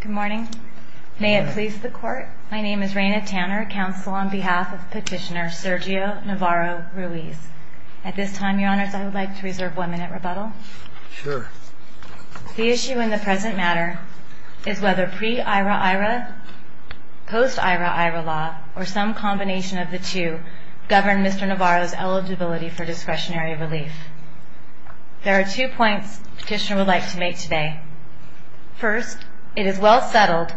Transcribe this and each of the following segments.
Good morning. May it please the Court, my name is Raina Tanner, counsel on behalf of Petitioner Sergio Navarro-Ruiz. At this time, Your Honors, I would like to reserve one minute rebuttal. Sure. The issue in the present matter is whether pre-Ira-Ira, post-Ira-Ira law, or some combination of the two, govern Mr. Navarro's eligibility for discretionary relief. There are two points Petitioner would like to make today. First, it is well settled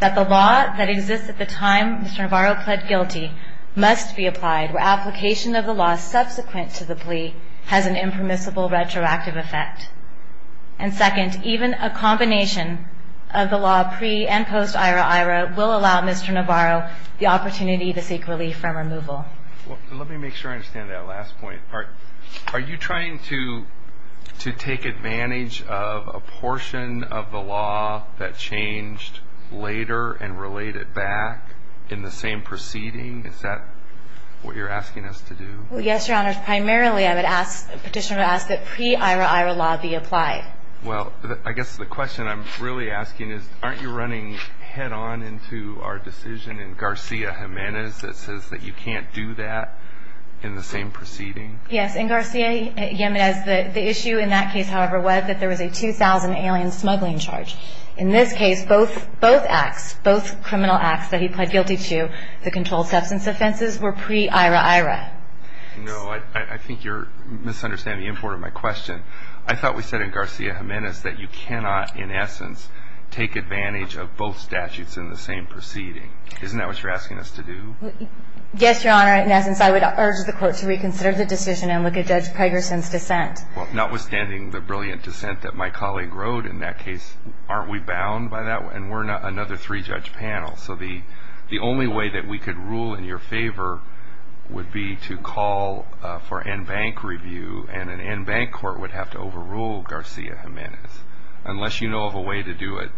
that the law that exists at the time Mr. Navarro pled guilty must be applied, where application of the law subsequent to the plea has an impermissible retroactive effect. And second, even a combination of the law pre- and post-Ira-Ira will allow Mr. Navarro the opportunity to seek relief from removal. Let me make sure I understand that last point. Are you trying to take advantage of a portion of the law that changed later and relate it back in the same proceeding? Is that what you're asking us to do? Well, yes, Your Honors. Primarily, I would petition to ask that pre-Ira-Ira law be applied. Well, I guess the question I'm really asking is, aren't you running head-on into our decision in Garcia-Jimenez that says that you can't do that in the same proceeding? Yes, in Garcia-Jimenez, the issue in that case, however, was that there was a 2,000 alien smuggling charge. In this case, both acts, both criminal acts that he pled guilty to, the controlled substance offenses, were pre-Ira-Ira. No, I think you're misunderstanding the import of my question. I thought we said in Garcia-Jimenez that you cannot, in essence, take advantage of both statutes in the same proceeding. Isn't that what you're asking us to do? Yes, Your Honor. In essence, I would urge the Court to reconsider the decision and look at Judge Pegersen's dissent. Well, notwithstanding the brilliant dissent that my colleague wrote in that case, aren't we bound by that? And we're another three-judge panel. So the only way that we could rule in your favor would be to call for en banc review, and an en banc court would have to overrule Garcia-Jimenez, unless you know of a way to do it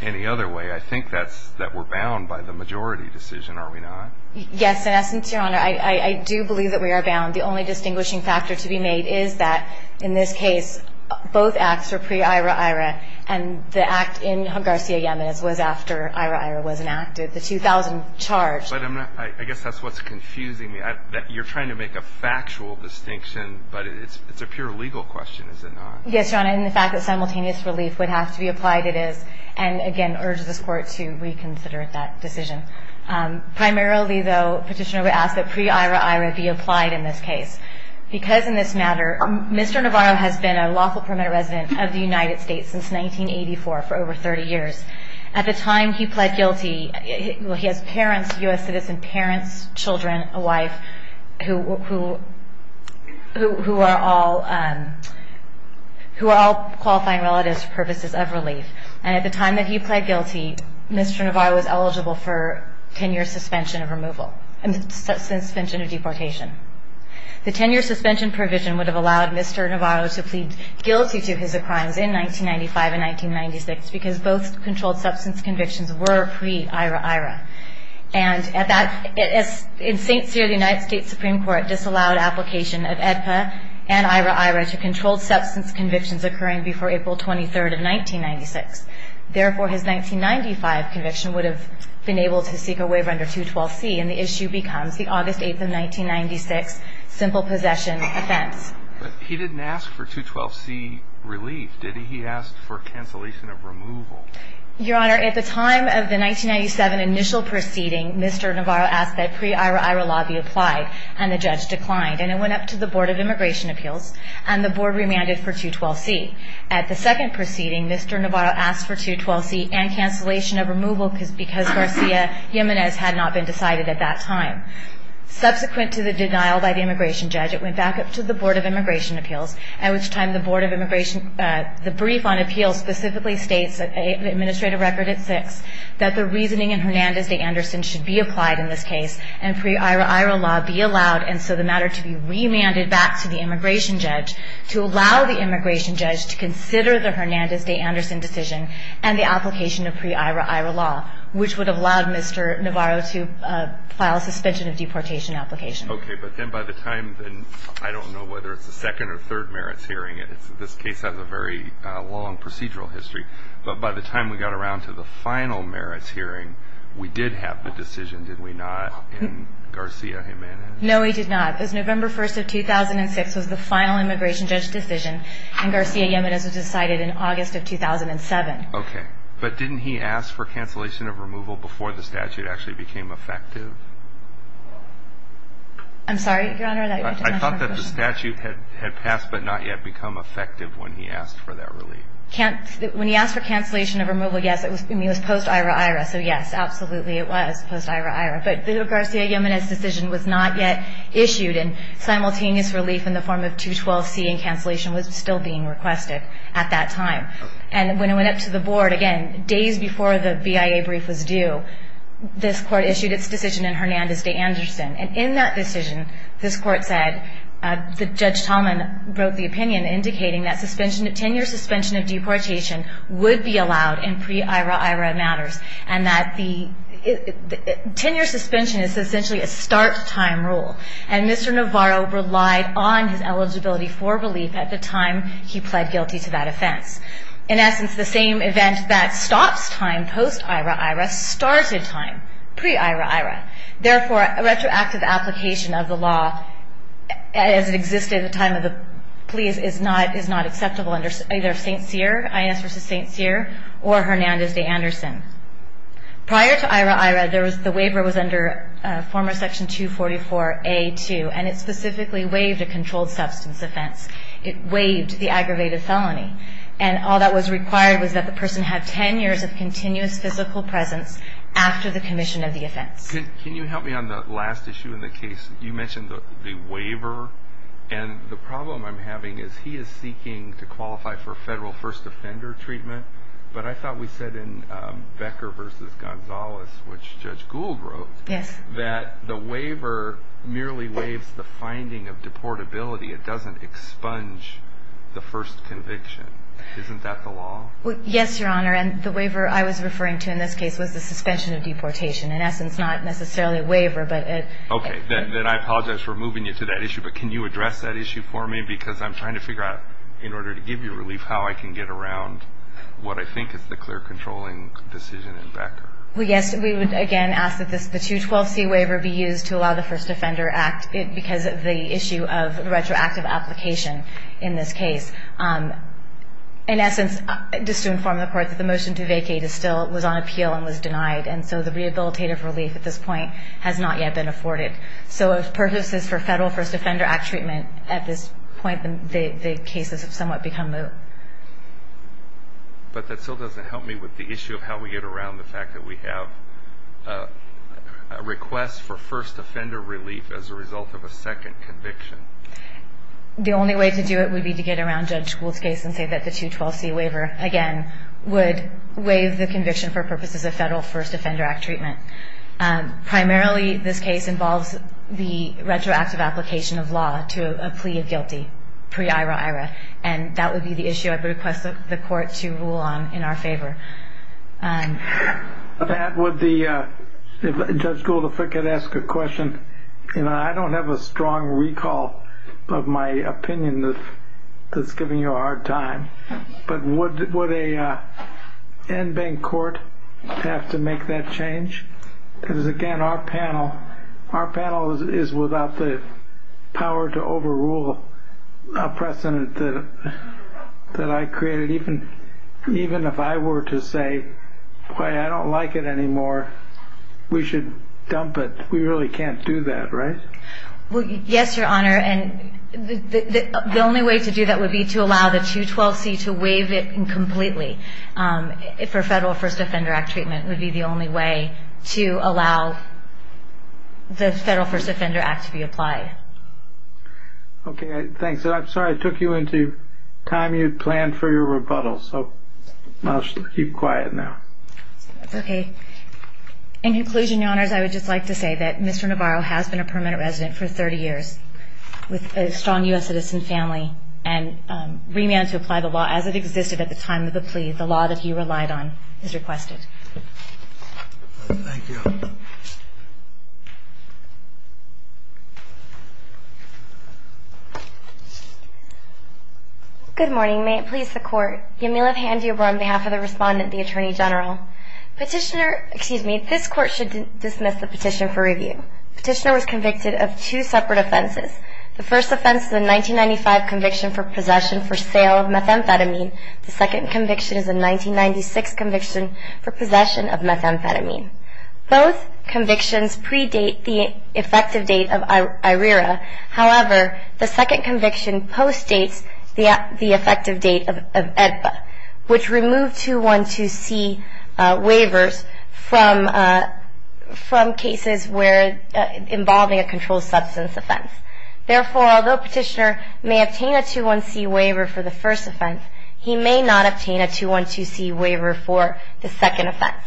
any other way. I think that we're bound by the majority decision, are we not? Yes, in essence, Your Honor. I do believe that we are bound. The only distinguishing factor to be made is that, in this case, both acts were pre-Ira-Ira, and the act in Garcia-Jimenez was after Ira-Ira was enacted, the 2000 charge. But I guess that's what's confusing me, that you're trying to make a factual distinction, but it's a pure legal question, is it not? Yes, Your Honor, and the fact that simultaneous relief would have to be applied, it is. And, again, I urge this Court to reconsider that decision. Primarily, though, Petitioner would ask that pre-Ira-Ira be applied in this case. Because in this matter, Mr. Navarro has been a lawful permanent resident of the United States since 1984 for over 30 years. At the time he pled guilty, he has parents, U.S. citizens, parents, children, a wife, who are all qualifying relatives for purposes of relief. And at the time that he pled guilty, Mr. Navarro was eligible for 10-year suspension of removal, The 10-year suspension provision would have allowed Mr. Navarro to plead guilty to his crimes in 1995 and 1996, because both controlled substance convictions were pre-Ira-Ira. And in St. Cyr, the United States Supreme Court disallowed application of AEDPA and Ira-Ira to controlled substance convictions occurring before April 23rd of 1996. Therefore, his 1995 conviction would have been able to seek a waiver under 212C, and the issue becomes the August 8th of 1996 simple possession offense. But he didn't ask for 212C relief, did he? He asked for cancellation of removal. Your Honor, at the time of the 1997 initial proceeding, Mr. Navarro asked that pre-Ira-Ira law be applied, and the judge declined. And it went up to the Board of Immigration Appeals, and the Board remanded for 212C. At the second proceeding, Mr. Navarro asked for 212C and cancellation of removal because Garcia Jimenez had not been decided at that time. Subsequent to the denial by the immigration judge, it went back up to the Board of Immigration Appeals, at which time the Board of Immigration – the brief on appeals specifically states, Administrative Record at 6, that the reasoning in Hernandez v. Anderson should be applied in this case and pre-Ira-Ira law be allowed, and so the matter to be remanded back to the immigration judge to allow the immigration judge to consider the Hernandez v. Anderson decision and the application of pre-Ira-Ira law, which would have allowed Mr. Navarro to file a suspension of deportation application. Okay, but then by the time – I don't know whether it's the second or third merits hearing. This case has a very long procedural history. But by the time we got around to the final merits hearing, we did have the decision, did we not, in Garcia Jimenez? No, we did not. November 1st of 2006 was the final immigration judge decision, and Garcia Jimenez was decided in August of 2007. Okay, but didn't he ask for cancellation of removal before the statute actually became effective? I'm sorry, Your Honor? I thought that the statute had passed but not yet become effective when he asked for that relief. When he asked for cancellation of removal, yes, it was post-Ira-Ira, so yes, absolutely it was post-Ira-Ira. But the Garcia Jimenez decision was not yet issued, and simultaneous relief in the form of 212C and cancellation was still being requested at that time. And when it went up to the Board, again, days before the BIA brief was due, this Court issued its decision in Hernandez v. Anderson. And in that decision, this Court said that Judge Tallman wrote the opinion indicating that 10-year suspension of deportation would be allowed in pre-Ira-Ira matters, and that the 10-year suspension is essentially a start-time rule. And Mr. Navarro relied on his eligibility for relief at the time he pled guilty to that offense. In essence, the same event that stops time post-Ira-Ira started time pre-Ira-Ira. Therefore, a retroactive application of the law as it existed at the time of the plea is not acceptable under either St. Cyr, I.S. v. St. Cyr, or Hernandez v. Anderson. Prior to Ira-Ira, the waiver was under former Section 244A-2, and it specifically waived a controlled substance offense. It waived the aggravated felony. And all that was required was that the person have 10 years of continuous physical presence after the commission of the offense. Can you help me on the last issue in the case? You mentioned the waiver. And the problem I'm having is he is seeking to qualify for federal first offender treatment, but I thought we said in Becker v. Gonzales, which Judge Gould wrote, that the waiver merely waives the finding of deportability. It doesn't expunge the first conviction. Isn't that the law? Yes, Your Honor, and the waiver I was referring to in this case was the suspension of deportation. In essence, not necessarily a waiver, but a... Okay, then I apologize for moving you to that issue. But can you address that issue for me? Because I'm trying to figure out, in order to give you relief, how I can get around what I think is the clear controlling decision in Becker. Well, yes, we would, again, ask that the 212C waiver be used to allow the first offender act because of the issue of retroactive application in this case. In essence, just to inform the Court, that the motion to vacate was on appeal and was denied, and so the rehabilitative relief at this point has not yet been afforded. So if purposes for Federal First Offender Act treatment at this point, the cases have somewhat become moot. But that still doesn't help me with the issue of how we get around the fact that we have a request for first offender relief as a result of a second conviction. The only way to do it would be to get around Judge Gould's case and say that the 212C waiver, again, would waive the conviction for purposes of Federal First Offender Act treatment. Primarily, this case involves the retroactive application of law to a plea of guilty, pre-IRA-IRA, and that would be the issue I would request the Court to rule on in our favor. With that, Judge Gould, if I could ask a question. I don't have a strong recall of my opinion that's giving you a hard time, but would an in-bank court have to make that change? Because, again, our panel is without the power to overrule a precedent that I created. Even if I were to say, boy, I don't like it anymore, we should dump it. We really can't do that, right? Well, yes, Your Honor, and the only way to do that would be to allow the 212C to waive it completely for Federal First Offender Act treatment. It would be the only way to allow the Federal First Offender Act to be applied. Okay, thanks. I'm sorry I took you into time you had planned for your rebuttal, so I'll just keep quiet now. In conclusion, Your Honors, I would just like to say that Mr. Navarro has been a permanent resident for 30 years with a strong U.S. citizen family and remanded to apply the law as it existed at the time of the plea, the law that he relied on, as requested. Thank you. Good morning. May it please the Court. Yamila Handiabar on behalf of the Respondent, the Attorney General. Petitioner, excuse me, this Court should dismiss the petition for review. Petitioner was convicted of two separate offenses. The first offense is a 1995 conviction for possession for sale of methamphetamine. The second conviction is a 1996 conviction for possession of methamphetamine. Both convictions predate the effective date of IRERA. However, the second conviction postdates the effective date of AEDPA, which removed 212C waivers from cases involving a controlled substance offense. Therefore, although Petitioner may obtain a 212C waiver for the first offense, he may not obtain a 212C waiver for the second offense.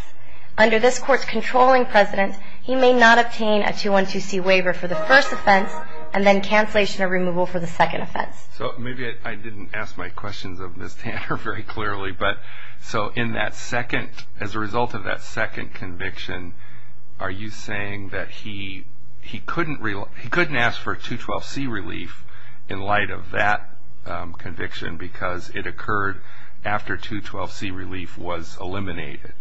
Under this Court's controlling precedent, he may not obtain a 212C waiver for the first offense and then cancellation or removal for the second offense. So maybe I didn't ask my questions of Ms. Tanner very clearly, but so in that second, as a result of that second conviction, are you saying that he couldn't ask for a 212C relief in light of that conviction because it occurred after 212C relief was eliminated?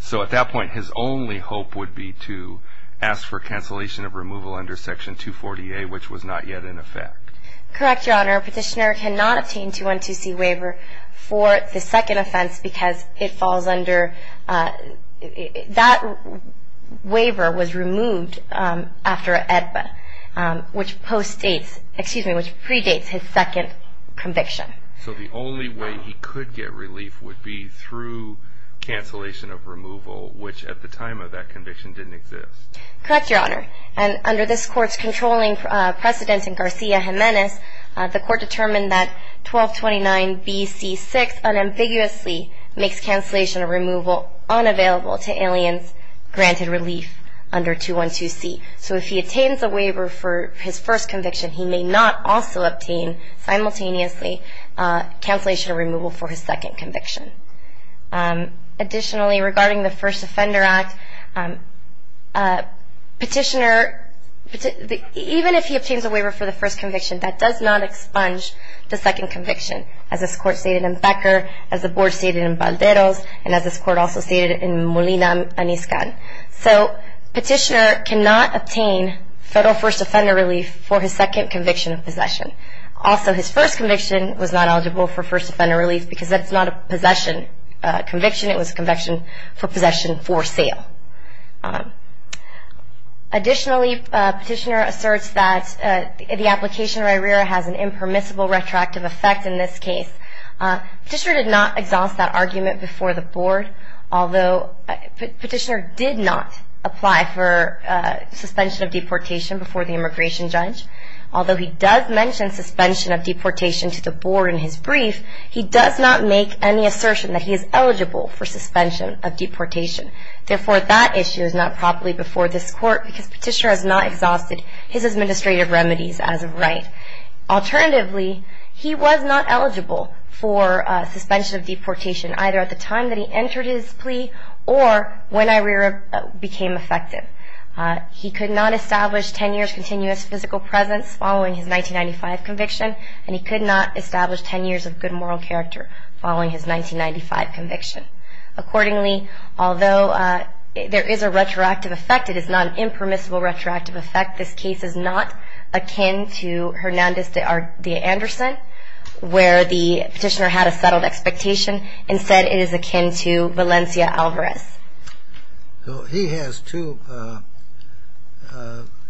So at that point, his only hope would be to ask for cancellation of removal under Section 240A, which was not yet in effect. Correct, Your Honor. Petitioner cannot obtain a 212C waiver for the second offense because it falls under – that waiver was removed after AEDPA, which predates his second conviction. So the only way he could get relief would be through cancellation of removal, which at the time of that conviction didn't exist. Correct, Your Honor. And under this Court's controlling precedent in Garcia-Jimenez, the Court determined that 1229BC6 unambiguously makes cancellation of removal unavailable to aliens granted relief under 212C. So if he attains a waiver for his first conviction, he may not also obtain simultaneously cancellation of removal for his second conviction. Additionally, regarding the First Offender Act, petitioner – petitioner does not expunge the second conviction, as this Court stated in Becker, as the Board stated in Balderos, and as this Court also stated in Molina and Iskan. So petitioner cannot obtain federal First Offender relief for his second conviction of possession. Also, his first conviction was not eligible for First Offender relief because that's not a possession conviction. It was a conviction for possession for sale. Additionally, petitioner asserts that the application of IRERA has an impermissible retroactive effect in this case. Petitioner did not exhaust that argument before the Board, although petitioner did not apply for suspension of deportation before the immigration judge. Although he does mention suspension of deportation to the Board in his brief, he does not make any assertion that he is eligible for suspension of deportation. Therefore, that issue is not properly before this Court because petitioner has not exhausted his administrative remedies as of right. Alternatively, he was not eligible for suspension of deportation either at the time that he entered his plea or when IRERA became effective. He could not establish 10 years continuous physical presence following his 1995 conviction, and he could not establish 10 years of good moral character following his 1995 conviction. Accordingly, although there is a retroactive effect, it is not an impermissible retroactive effect. This case is not akin to Hernandez v. Anderson, where the petitioner had a settled expectation. Instead, it is akin to Valencia Alvarez. He has two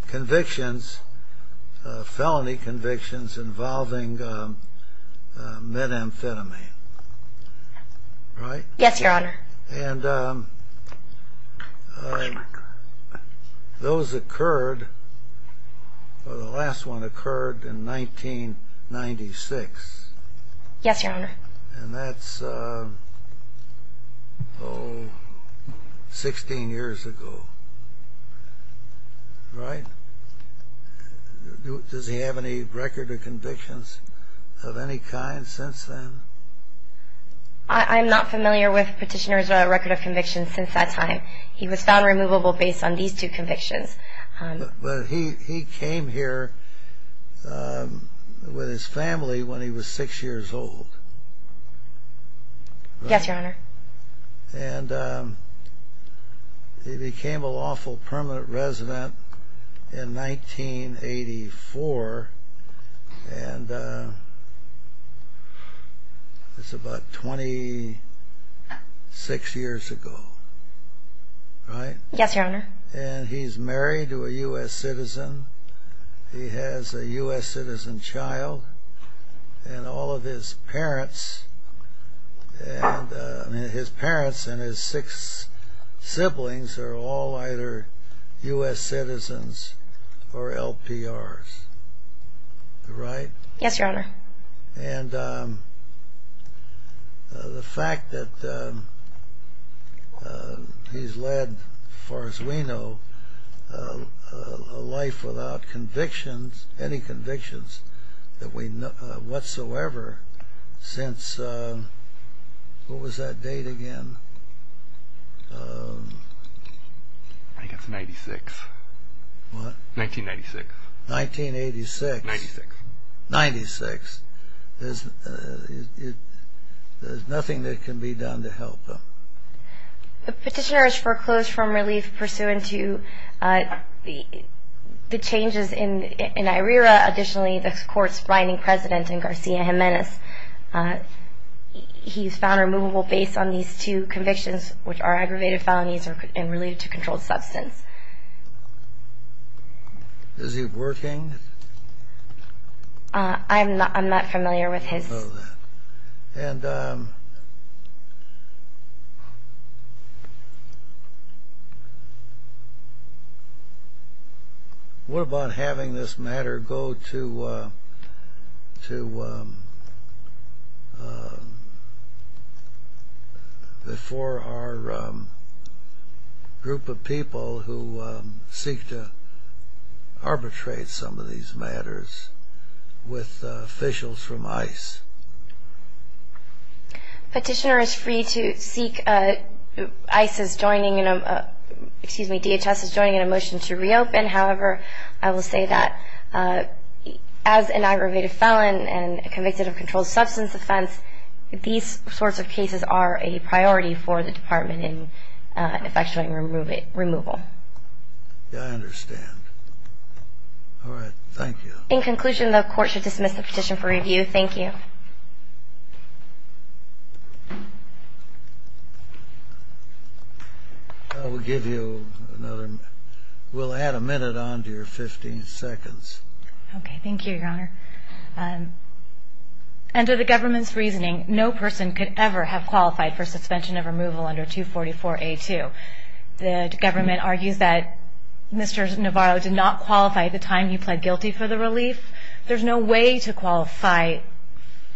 convictions, felony convictions, involving methamphetamine, right? Yes, Your Honor. And those occurred, or the last one occurred in 1996. Yes, Your Honor. And that's, oh, 16 years ago, right? Does he have any record of convictions of any kind since then? I'm not familiar with petitioner's record of convictions since that time. He was found removable based on these two convictions. But he came here with his family when he was 6 years old. Yes, Your Honor. And he became a lawful permanent resident in 1984, and that's about 26 years ago, right? Yes, Your Honor. And he's married to a U.S. citizen. He has a U.S. citizen child. And all of his parents, his parents and his six siblings are all either U.S. citizens or LPRs, right? Yes, Your Honor. And the fact that he's led, as far as we know, a life without convictions, any convictions, whatsoever, since, what was that date again? I think it's 96. What? 1996. 1986. 96. There's nothing that can be done to help him. The petitioner has foreclosed from relief pursuant to the changes in IRERA. Additionally, the court's grinding president in Garcia Jimenez, he's found removable based on these two convictions, which are aggravated felonies and related to controlled substance. Is he working? I'm not familiar with his. Oh, that. with officials from ICE. Petitioner is free to seek ICE's joining, excuse me, DHS's joining in a motion to reopen. However, I will say that as an aggravated felon and convicted of controlled substance offense, these sorts of cases are a priority for the department in effectuating removal. I understand. All right. Thank you. In conclusion, the court should dismiss the petition for review. Thank you. I will give you another. We'll add a minute on to your 15 seconds. Okay. Thank you, Your Honor. Under the government's reasoning, no person could ever have qualified for suspension of removal under 244A2. The government argues that Mr. Navarro did not qualify at the time he pled guilty for the relief. There's no way to qualify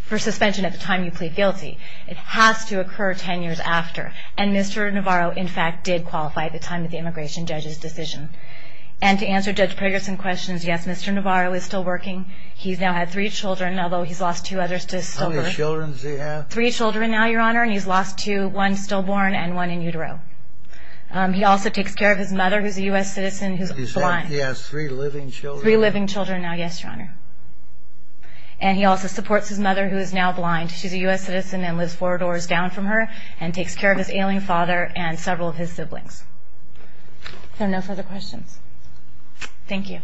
for suspension at the time you plead guilty. It has to occur 10 years after. And Mr. Navarro, in fact, did qualify at the time of the immigration judge's decision. And to answer Judge Preggerson's questions, yes, Mr. Navarro is still working. He's now had three children, although he's lost two others to sober. How many children does he have? Three children now, Your Honor, and he's lost two, one stillborn and one in utero. He also takes care of his mother, who's a U.S. citizen, who's blind. He has three living children. Three living children now, yes, Your Honor. And he also supports his mother, who is now blind. She's a U.S. citizen and lives four doors down from her and takes care of his ailing father and several of his siblings. So no further questions. Thank you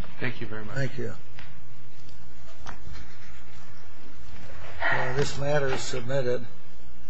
very much. Thank you. This matter is submitted.